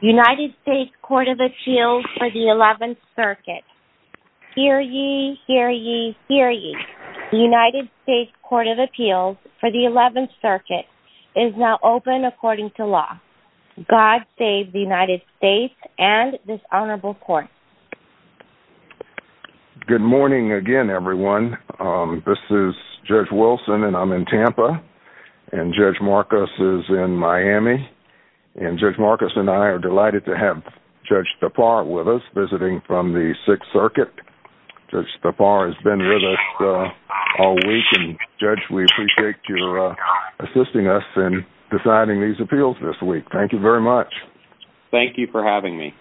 United States Court of Appeals for the 11th Circuit. Hear ye, hear ye, hear ye. The United States Court of Appeals for the 11th Circuit is now open according to law. God save the United States and this honorable court. Good morning again, everyone. This is Judge Wilson, and I'm in Tampa. And Judge Marcus is in Miami. And Judge Marcus and I are delighted to have Judge Thapar with us, visiting from the 6th Circuit. Judge Thapar has been with us all week, and Judge, we appreciate your assisting us in deciding these appeals this week. Thank you very much. Thank you for having me.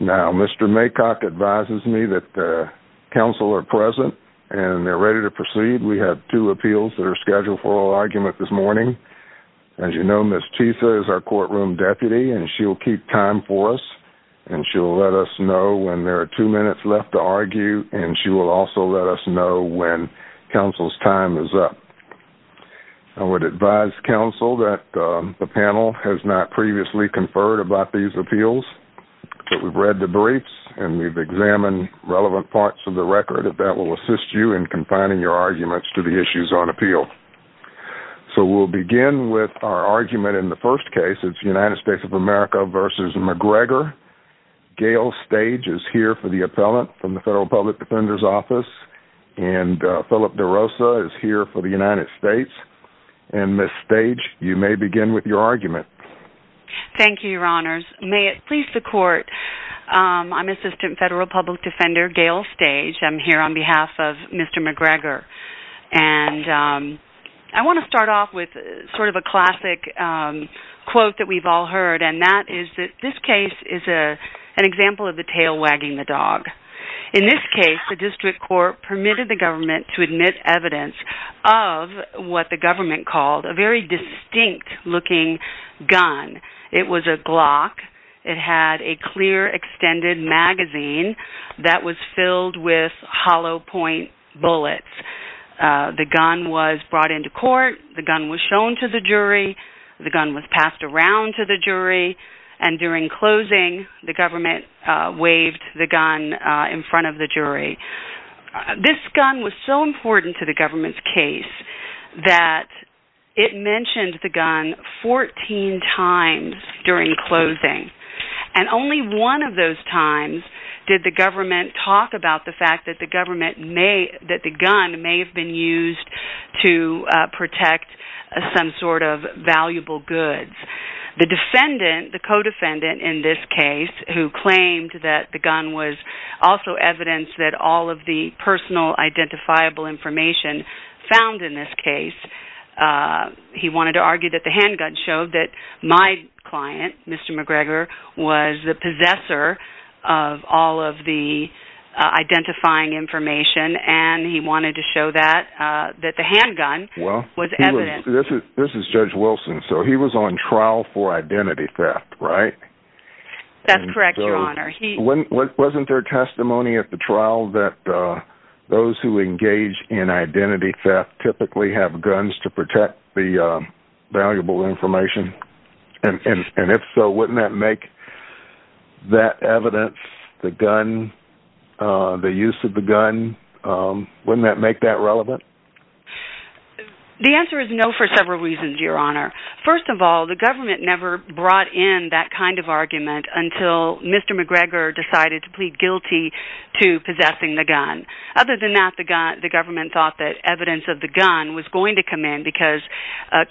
Now, Mr. Maycock advises me that counsel are present and they're ready to proceed. We have two appeals that are scheduled for oral argument this morning. As you know, Ms. Tisa is our courtroom deputy, and she'll keep time for us. And she'll let us know when there are two minutes left to argue, and she will also let us know when counsel's time is up. I would advise counsel that the panel has not previously conferred about these appeals, but we've read the briefs and we've examined relevant parts of the record, if that will assist you in confining your arguments to the issues on appeal. So we'll begin with our argument in the first case. It's United States of America v. McGregor. Gail Stage is here for the appellant from the Federal Public Defender's Office, and Philip DeRosa is here for the United States. And, Ms. Stage, you may begin with your argument. Thank you, Your Honors. May it please the Court, I'm Assistant Federal Public Defender Gail Stage. I'm here on behalf of Mr. McGregor. And I want to start off with sort of a classic quote that we've all heard, and that is that this case is an example of the tail wagging the dog. In this case, the district court permitted the government to admit evidence of what the government called a very distinct-looking gun. It was a Glock. It had a clear extended magazine that was filled with hollow-point bullets. The gun was brought into court. The gun was shown to the jury. The gun was passed around to the jury. And during closing, the government waved the gun in front of the jury. This gun was so important to the government's case that it mentioned the gun 14 times during closing. And only one of those times did the government talk about the fact that the gun may have been used to protect some sort of valuable goods. The defendant, the co-defendant in this case, who claimed that the gun was also evidence that all of the personal identifiable information found in this case, he wanted to argue that the handgun showed that my client, Mr. McGregor, was the possessor of all of the identifying information, and he wanted to show that the handgun was evidence. This is Judge Wilson. So he was on trial for identity theft, right? That's correct, Your Honor. Wasn't there testimony at the trial that those who engage in identity theft typically have guns to protect the valuable information? And if so, wouldn't that make that evidence, the gun, the use of the gun, wouldn't that make that relevant? The answer is no for several reasons, Your Honor. First of all, the government never brought in that kind of argument until Mr. McGregor decided to plead guilty to possessing the gun. Other than that, the government thought that evidence of the gun was going to come in because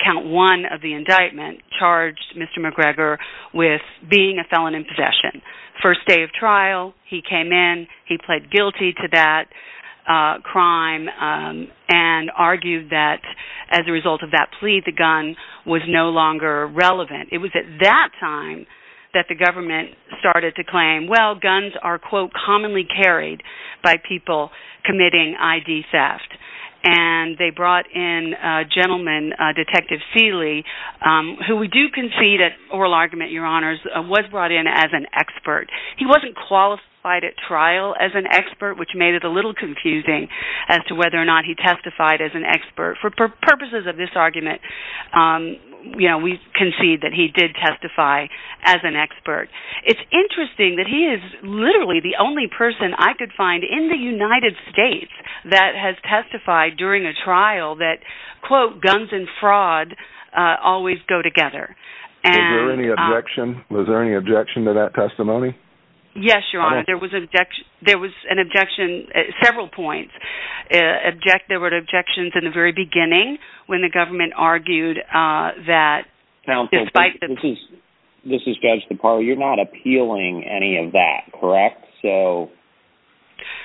count one of the indictments charged Mr. McGregor with being a felon in possession. First day of trial, he came in, he pled guilty to that crime and argued that as a result of that plea, the gun was no longer relevant. It was at that time that the government started to claim, well, guns are, quote, commonly carried by people committing ID theft. And they brought in a gentleman, Detective Seeley, who we do concede at oral argument, Your Honors, was brought in as an expert. He wasn't qualified at trial as an expert, which made it a little confusing as to whether or not he testified as an expert. For purposes of this argument, we concede that he did testify as an expert. It's interesting that he is literally the only person I could find in the United States that has testified during a trial that, quote, guns and fraud always go together. Was there any objection to that testimony? Yes, Your Honor. There was an objection at several points. There were objections at the very beginning when the government argued that despite the... This is Judge DeParle. You're not appealing any of that, correct? So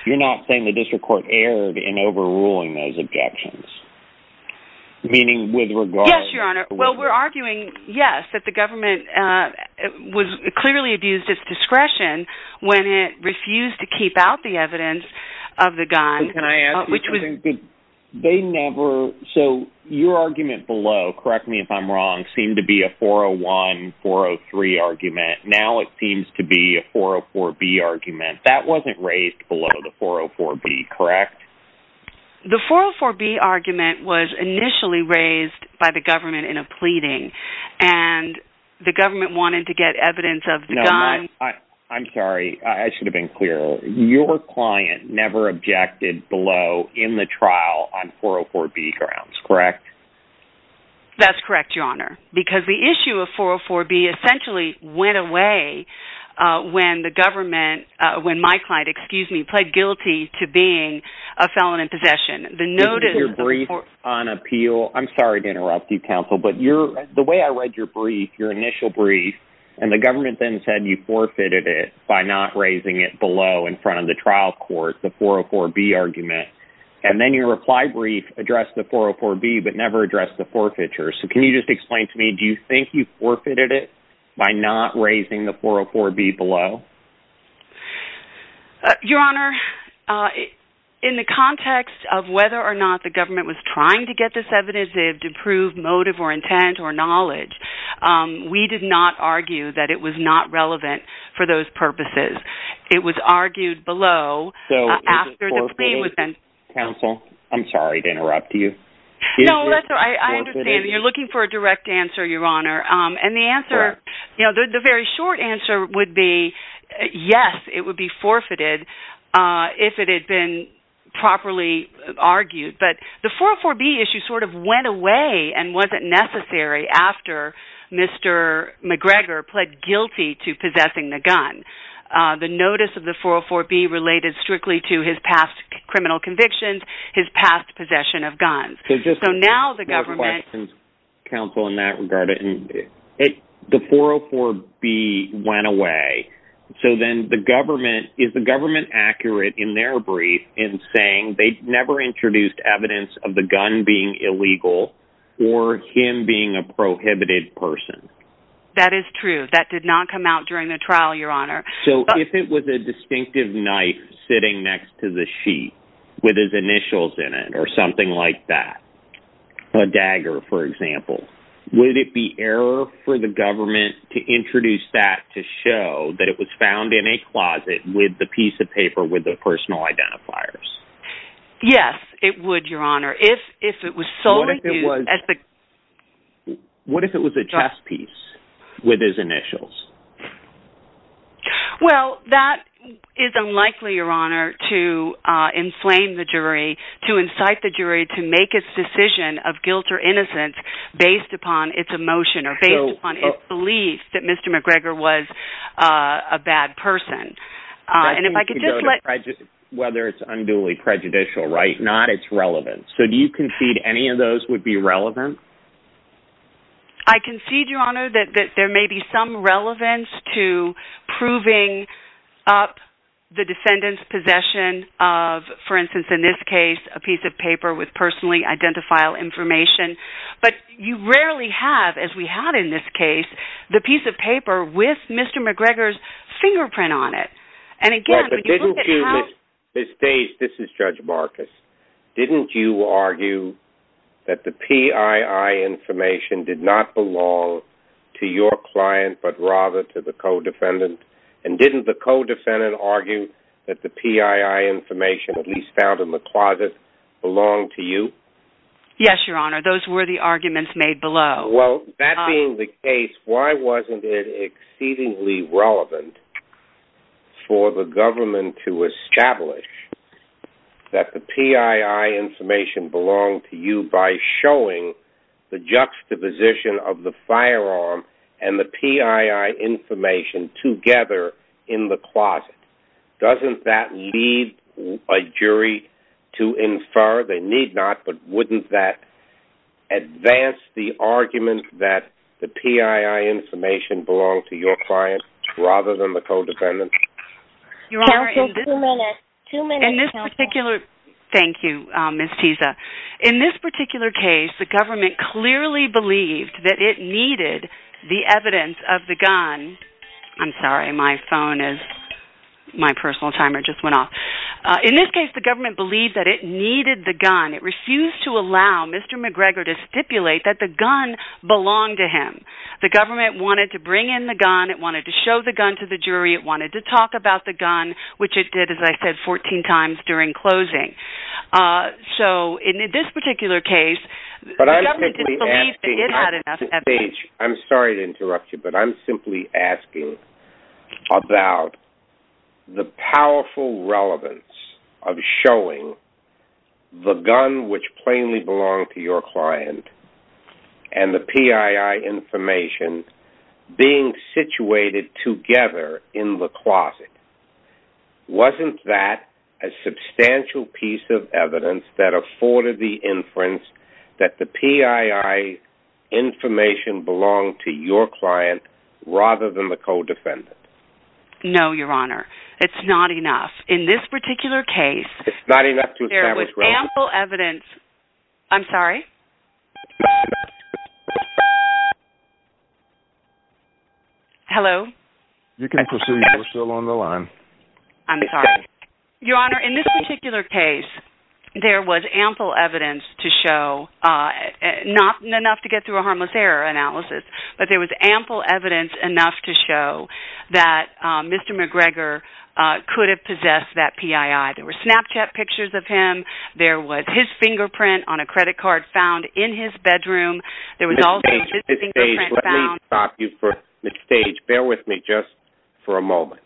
you're not saying the district court erred in overruling those objections? Yes, Your Honor. Well, we're arguing, yes, that the government clearly abused its discretion when it refused to keep out the evidence of the gun. So your argument below, correct me if I'm wrong, seemed to be a 401, 403 argument. Now it seems to be a 404B argument. That wasn't raised below the 404B, correct? The 404B argument was initially raised by the government in a pleading, and the government wanted to get evidence of the gun. I'm sorry. I should have been clearer. Your client never objected below in the trial on 404B grounds, correct? That's correct, Your Honor, because the issue of 404B essentially went away when the government, when my client, excuse me, pled guilty to being a felon in possession. This is your brief on appeal. I'm sorry to interrupt you, counsel, but the way I read your brief, your initial brief, and the government then said you forfeited it by not raising it below in front of the trial court, the 404B argument, and then your reply brief addressed the 404B, but never addressed the forfeiture. So can you just explain to me, do you think you forfeited it by not raising the 404B below? Your Honor, in the context of whether or not the government was trying to get this evidence, to prove motive or intent or knowledge, we did not argue that it was not relevant for those purposes. It was argued below, after the plea was then... So is it forfeited, counsel? I'm sorry to interrupt you. No, that's all right. I understand. You're looking for a direct answer, Your Honor. And the answer, the very short answer would be yes, it would be forfeited if it had been properly argued. But the 404B issue sort of went away and wasn't necessary after Mr. McGregor pled guilty to possessing the gun. The notice of the 404B related strictly to his past criminal convictions, his past possession of guns. So now the government... Counsel, in that regard, the 404B went away. So then the government, is the government accurate in their brief in saying they never introduced evidence of the gun being illegal or him being a prohibited person? That is true. That did not come out during the trial, Your Honor. So if it was a distinctive knife sitting next to the sheet with his initials in it or something like that, a dagger, for example, would it be error for the government to introduce that to show that it was found in a closet with the piece of paper with the personal identifiers? Yes, it would, Your Honor. If it was solely used... What if it was a chess piece with his initials? Well, that is unlikely, Your Honor, to enslave the jury, to incite the jury to make a decision of guilt or innocence based upon its emotion or based upon its belief that Mr. McGregor was a bad person. And if I could just let... Whether it's unduly prejudicial, right? Not its relevance. So do you concede any of those would be relevant? I concede, Your Honor, that there may be some relevance to proving up the defendant's possession of, for instance, in this case, a piece of paper with personally identifiable information. But you rarely have, as we had in this case, the piece of paper with Mr. McGregor's fingerprint on it. Ms. Stace, this is Judge Marcus. Didn't you argue that the PII information did not belong to your client but rather to the co-defendant? And didn't the co-defendant argue that the PII information, at least found in the closet, belonged to you? Yes, Your Honor. Those were the arguments made below. Well, that being the case, why wasn't it exceedingly relevant for the government to establish that the PII information belonged to you by showing the juxtaposition of the firearm and the PII information together in the closet? Doesn't that leave a jury to infer? They need not. But wouldn't that advance the argument that the PII information belonged to your client rather than the co-defendant? Counsel, two minutes. Two minutes, Counsel. Thank you, Ms. Tisa. In this particular case, the government clearly believed that it needed the evidence of the gun. I'm sorry. My phone is... My personal timer just went off. In this case, the government believed that it needed the gun. It refused to allow Mr. McGregor to stipulate that the gun belonged to him. The government wanted to bring in the gun. It wanted to show the gun to the jury. It wanted to talk about the gun, which it did, as I said, 14 times during closing. So, in this particular case, the government didn't believe that it had enough evidence. I'm sorry to interrupt you, but I'm simply asking about the powerful relevance of showing the gun, which plainly belonged to your client, and the PII information being situated together in the closet. Wasn't that a substantial piece of evidence that afforded the inference that the PII information belonged to your client rather than the co-defendant? No, Your Honor. It's not enough. In this particular case... It's not enough to establish... There was ample evidence... I'm sorry? Hello? You can proceed. We're still on the line. I'm sorry. Your Honor, in this particular case, there was ample evidence to show... Not enough to get through a harmless error analysis, but there was ample evidence enough to show that Mr. McGregor could have possessed that PII. There were Snapchat pictures of him. There was his fingerprint on a credit card found in his bedroom. There was also his fingerprint found... At this stage, bear with me just for a moment.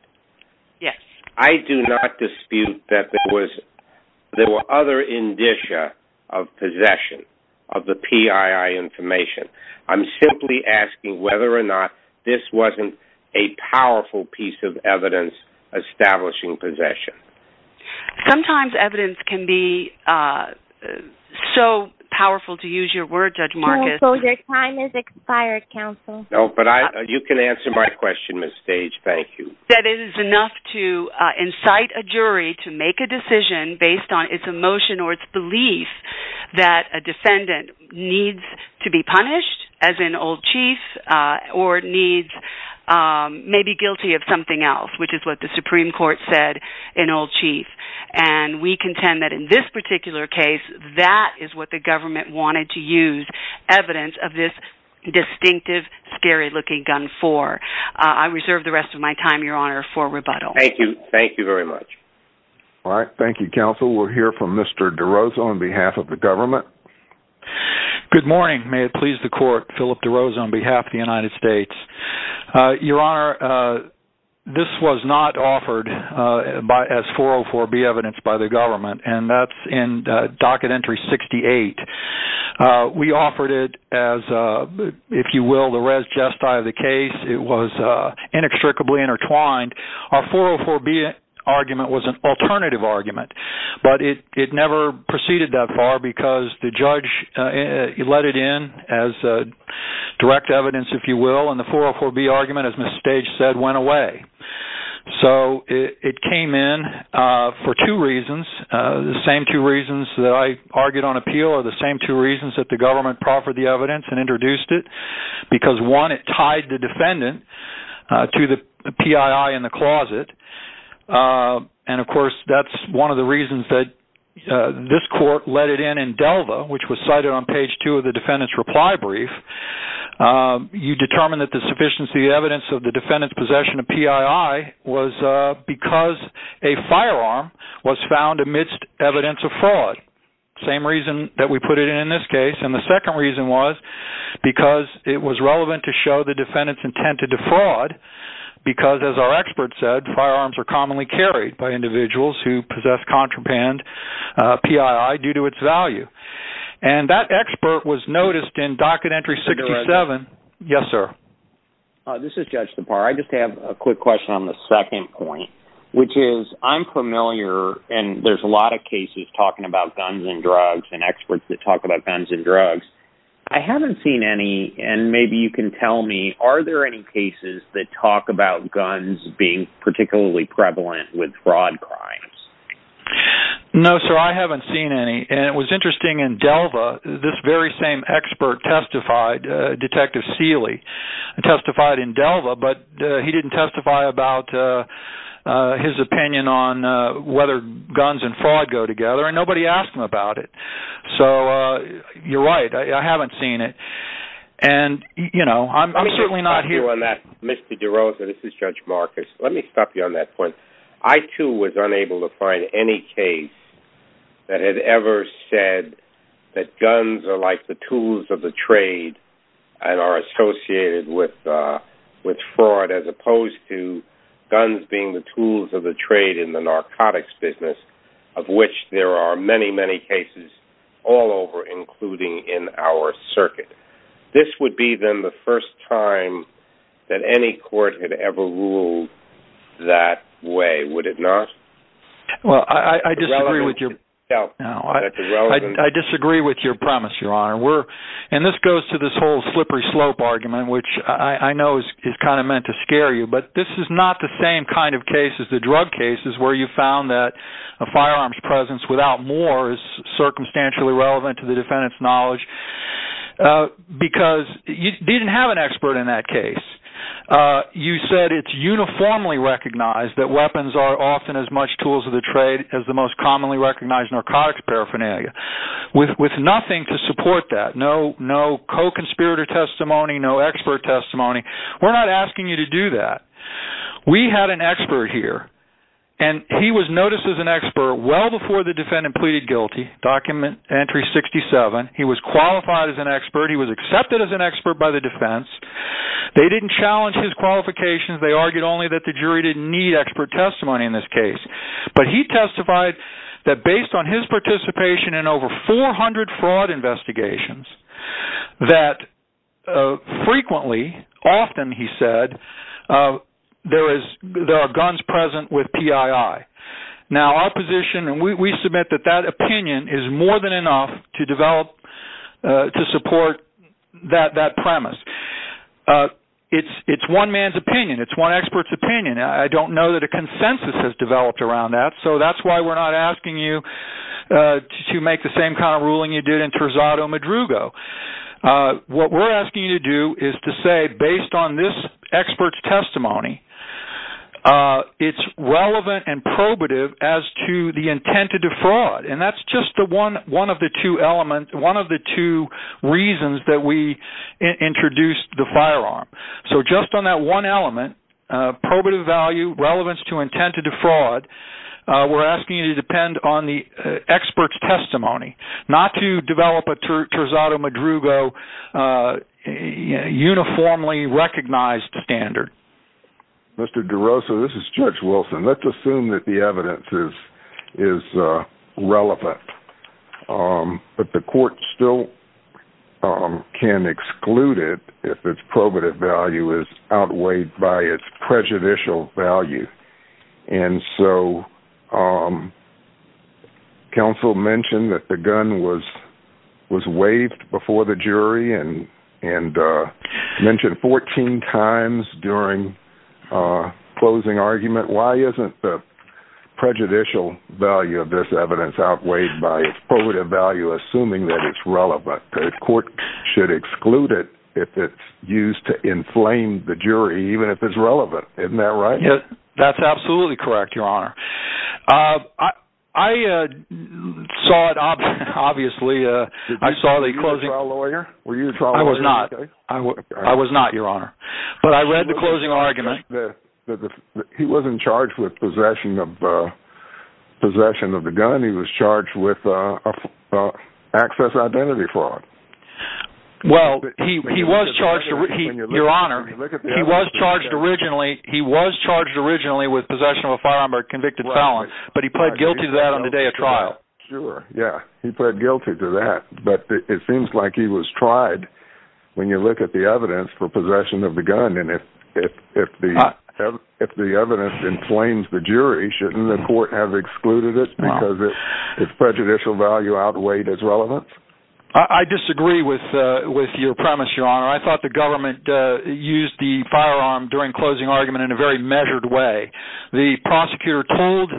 Yes. I do not dispute that there were other indicia of possession of the PII information. I'm simply asking whether or not this wasn't a powerful piece of evidence establishing possession. Sometimes evidence can be so powerful, to use your word, Judge Marcus... So your time has expired, counsel. No, but you can answer my question, Ms. Stage. Thank you. That it is enough to incite a jury to make a decision based on its emotion or its belief that a defendant needs to be punished, as in old chief, or needs... may be guilty of something else, which is what the Supreme Court said in old chief. And we contend that in this particular case, that is what the government wanted to use evidence of this distinctive, scary-looking gun for. I reserve the rest of my time, your honor, for rebuttal. Thank you. Thank you very much. All right. Thank you, counsel. We'll hear from Mr. DeRosa on behalf of the government. Good morning. May it please the court, Philip DeRosa on behalf of the United States. Your honor, this was not offered as 404B evidence by the government, and that's in docket entry 68. We offered it as, if you will, the res gestae of the case. It was inextricably intertwined. Our 404B argument was an alternative argument, but it never proceeded that far because the judge let it in as direct evidence, if you will, and the 404B argument, as Ms. Stage said, went away. So it came in for two reasons. The same two reasons that I argued on appeal are the same two reasons that the government proffered the evidence and introduced it, because one, it tied the defendant to the PII in the closet. And of course, that's one of the reasons that this court let it in in Delva, which was cited on page two of the defendant's reply brief. You determined that the sufficiency of the evidence of the defendant's possession of PII was because a firearm was found amidst evidence of fraud. Same reason that we put it in in this case. And the second reason was because it was relevant to show the defendant's intent to defraud because, as our expert said, firearms are commonly carried by individuals who possess contraband PII due to its value. And that expert was noticed in docket entry 67. Yes, sir. This is Judge Separ. I just have a quick question on the second point, which is I'm familiar, and there's a lot of cases talking about guns and drugs and experts that talk about guns and drugs. I haven't seen any, and maybe you can tell me, are there any cases that talk about guns being particularly prevalent with fraud crimes? No, sir. I haven't seen any. And it was interesting in Delva, this very same expert testified, Detective Seeley testified in Delva, but he didn't testify about his opinion on whether guns and fraud go together. And nobody asked him about it. So you're right. I haven't seen it. And, you know, I'm certainly not here on that. Mr. DeRosa, this is Judge Marcus. Let me stop you on that point. I, too, was unable to find any case that had ever said that guns are like the tools of the trade and are associated with fraud, as opposed to guns being the tools of the trade in the narcotics business, of which there are many, many cases all over, including in our circuit. This would be, then, the first time that any court had ever ruled that way, would it not? Well, I disagree with your premise, Your Honor. And this goes to this whole slippery slope argument, which I know is kind of meant to scare you. But this is not the same kind of case as the drug cases where you found that a firearm's presence without more is circumstantially relevant to the defendant's knowledge, because you didn't have an expert in that case. You said it's uniformly recognized that weapons are often as much tools of the trade as the most commonly recognized narcotics paraphernalia, with nothing to support that. No co-conspirator testimony, no expert testimony. We're not asking you to do that. We had an expert here, and he was noticed as an expert well before the defendant pleaded guilty. Document entry 67. He was qualified as an expert. He was accepted as an expert by the defense. They didn't challenge his qualifications. They argued only that the jury didn't need expert testimony in this case. But he testified that based on his participation in over 400 fraud investigations, that frequently, often, he said, there are guns present with PII. Now, our position, and we submit that that opinion is more than enough to develop, to support that premise. It's one man's opinion. It's one expert's opinion. I don't know that a consensus has developed around that. So that's why we're not asking you to make the same kind of ruling you did in Terzado Madrugo. What we're asking you to do is to say, based on this expert's testimony, it's relevant and probative as to the intent to defraud. And that's just one of the two reasons that we introduced the firearm. So just on that one element, probative value, relevance to intent to defraud, we're asking you to depend on the expert's testimony. Not to develop a Terzado Madrugo uniformly recognized standard. Mr. DeRosa, this is Judge Wilson. Let's assume that the evidence is relevant. But the court still can exclude it if its probative value is outweighed by its prejudicial value. And so counsel mentioned that the gun was waived before the jury and mentioned 14 times during closing argument. Why isn't the prejudicial value of this evidence outweighed by its probative value, assuming that it's relevant? The court should exclude it if it's used to inflame the jury, even if it's relevant. Isn't that right? That's absolutely correct, Your Honor. I saw it, obviously, I saw the closing... Were you the trial lawyer? I was not. I was not, Your Honor. But I read the closing argument. He wasn't charged with possession of the gun. He was charged with access identity fraud. Well, he was charged... Your Honor, he was charged originally with possession of a firearm or convicted felon. But he pled guilty to that on the day of trial. Sure, yeah. He pled guilty to that. But it seems like he was tried, when you look at the evidence, for possession of the gun. And if the evidence inflames the jury, shouldn't the court have excluded it because its prejudicial value outweighed its relevance? I disagree with your premise, Your Honor. I thought the government used the firearm during closing argument in a very measured way. The prosecutor told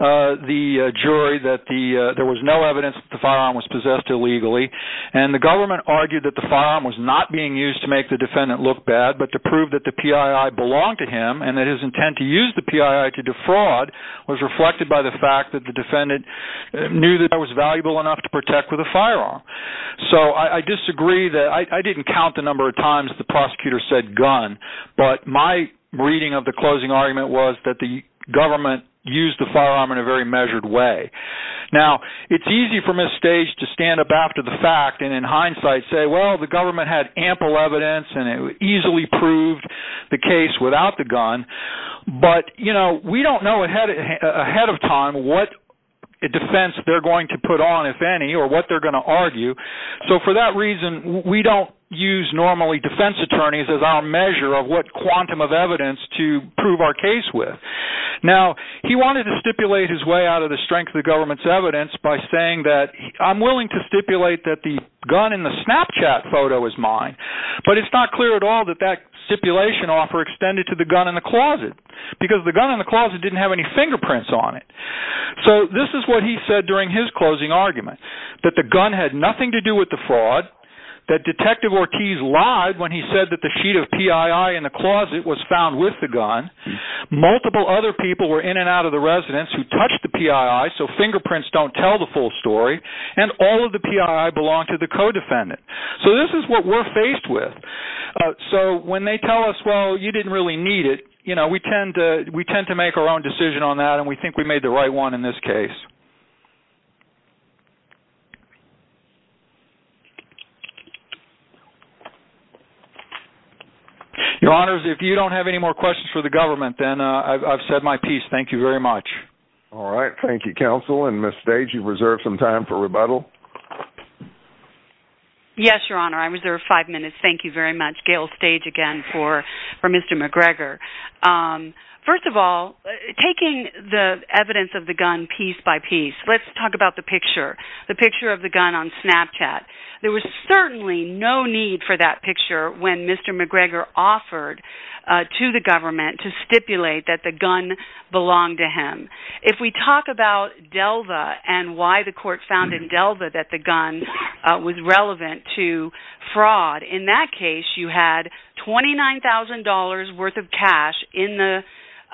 the jury that there was no evidence that the firearm was possessed illegally. And the government argued that the firearm was not being used to make the defendant look bad, but to prove that the PII belonged to him and that his intent to use the PII to defraud was reflected by the fact that the defendant knew that it was valuable enough to protect with a firearm. So I disagree that... I didn't count the number of times the prosecutor said gun, but my reading of the closing argument was that the government used the firearm in a very measured way. Now, it's easy from this stage to stand up after the fact and in hindsight say, well, the government had ample evidence and it easily proved the case without the gun. But, you know, we don't know ahead of time what defense they're going to put on, if any, or what they're going to argue. So for that reason, we don't use normally defense attorneys as our measure of what quantum of evidence to prove our case with. Now, he wanted to stipulate his way out of the strength of the government's evidence by saying that I'm willing to stipulate that the gun in the Snapchat photo is mine, but it's not clear at all that that stipulation offer extended to the gun in the closet, because the gun in the closet didn't have any fingerprints on it. So this is what he said during his closing argument, that the gun had nothing to do with the fraud, that Detective Ortiz lied when he said that the sheet of PII in the closet was found with the gun, multiple other people were in and out of the residence who touched the PII, so fingerprints don't tell the full story, and all of the PII belonged to the co-defendant. So this is what we're faced with. So when they tell us, well, you didn't really need it, we tend to make our own decision on that, and we think we made the right one in this case. Your Honors, if you don't have any more questions for the government, then I've said my piece. Thank you very much. All right, thank you, Counsel. And Ms. Stage, you reserve some time for rebuttal. Yes, Your Honor, I reserve five minutes. Thank you very much. Gail Stage again for Mr. McGregor. First of all, taking the evidence of the gun piece by piece, let's talk about the picture, the picture of the gun on Snapchat. There was certainly no need for that picture when Mr. McGregor offered to the government to stipulate that the gun belonged to him. If we talk about Delva and why the court found in Delva that the gun was relevant to fraud, in that case you had $29,000 worth of cash in the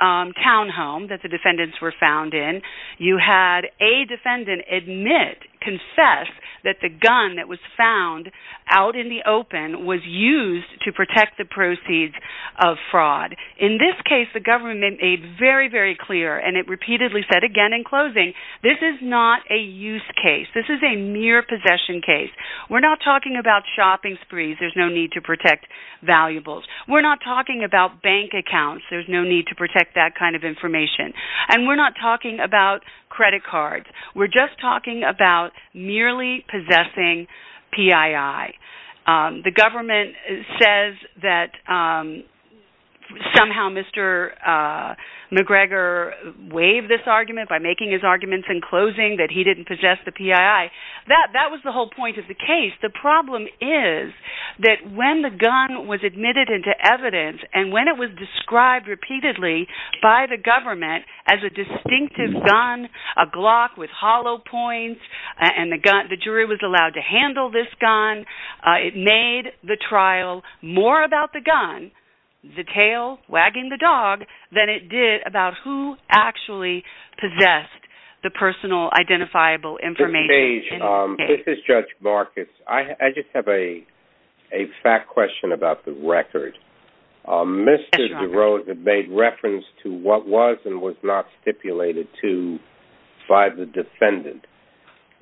townhome that the defendants were found in. You had a defendant admit, confess that the gun that was found out in the open was used to protect the proceeds of fraud. In this case, the government made very, very clear, and it repeatedly said again in closing, this is not a use case. This is a mere possession case. We're not talking about shopping sprees. There's no need to protect valuables. We're not talking about bank accounts. There's no need to protect that kind of information. And we're not talking about credit cards. We're just talking about merely possessing PII. The government says that somehow Mr. McGregor waived this argument by making his arguments in closing that he didn't possess the PII. That was the whole point of the case. The problem is that when the gun was admitted into evidence and when it was described repeatedly by the government as a distinctive gun, a Glock with hollow points, and the jury was allowed to handle this gun, it made the trial more about the gun, the tail wagging the dog, than it did about who actually possessed the personal identifiable information. Ms. Page, this is Judge Marcus. I just have a fact question about the record. Mr. DeRosa made reference to what was and was not stipulated to by the defendant.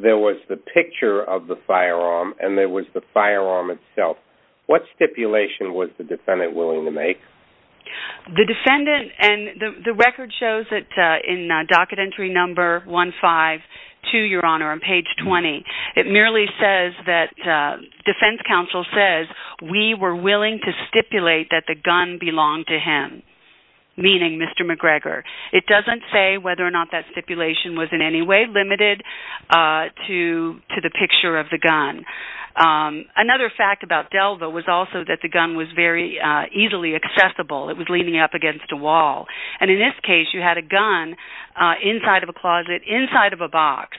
There was the picture of the firearm, and there was the firearm itself. What stipulation was the defendant willing to make? The defendant, and the record shows it in docket entry number 152, Your Honor, on page 20. It merely says that defense counsel says, we were willing to stipulate that the gun belonged to him, meaning Mr. McGregor. It doesn't say whether or not that stipulation was in any way limited to the picture of the gun. Another fact about Delva was also that the gun was very easily accessible. It was leaning up against a wall. And in this case, you had a gun inside of a closet, inside of a box,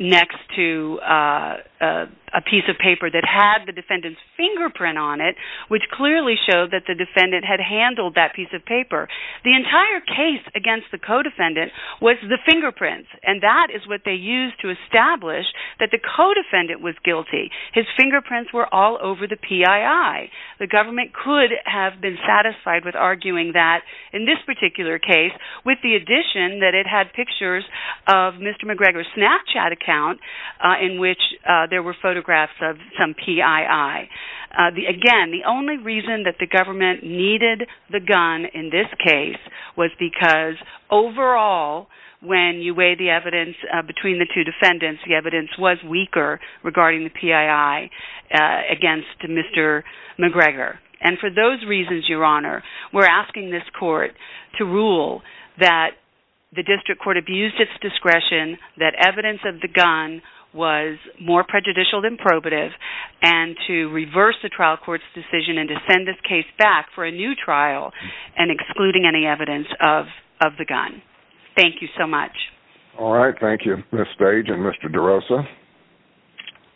next to a piece of paper that had the defendant's fingerprint on it, which clearly showed that the defendant had handled that piece of paper. The entire case against the co-defendant was the fingerprints, and that is what they used to establish that the co-defendant was guilty. His fingerprints were all over the PII. The government could have been satisfied with arguing that in this particular case, with the addition that it had pictures of Mr. McGregor's Snapchat account in which there were photographs of some PII. Again, the only reason that the government needed the gun in this case was because overall, when you weigh the evidence between the two defendants, the evidence was weaker regarding the PII against Mr. McGregor. And for those reasons, Your Honor, we're asking this court to rule that the district court abused its discretion, that evidence of the gun was more prejudicial than probative, and to reverse the trial court's decision and to send this case back for a new trial and excluding any evidence of the gun. Thank you so much. All right. Thank you, Ms. Stage and Mr. DeRosa.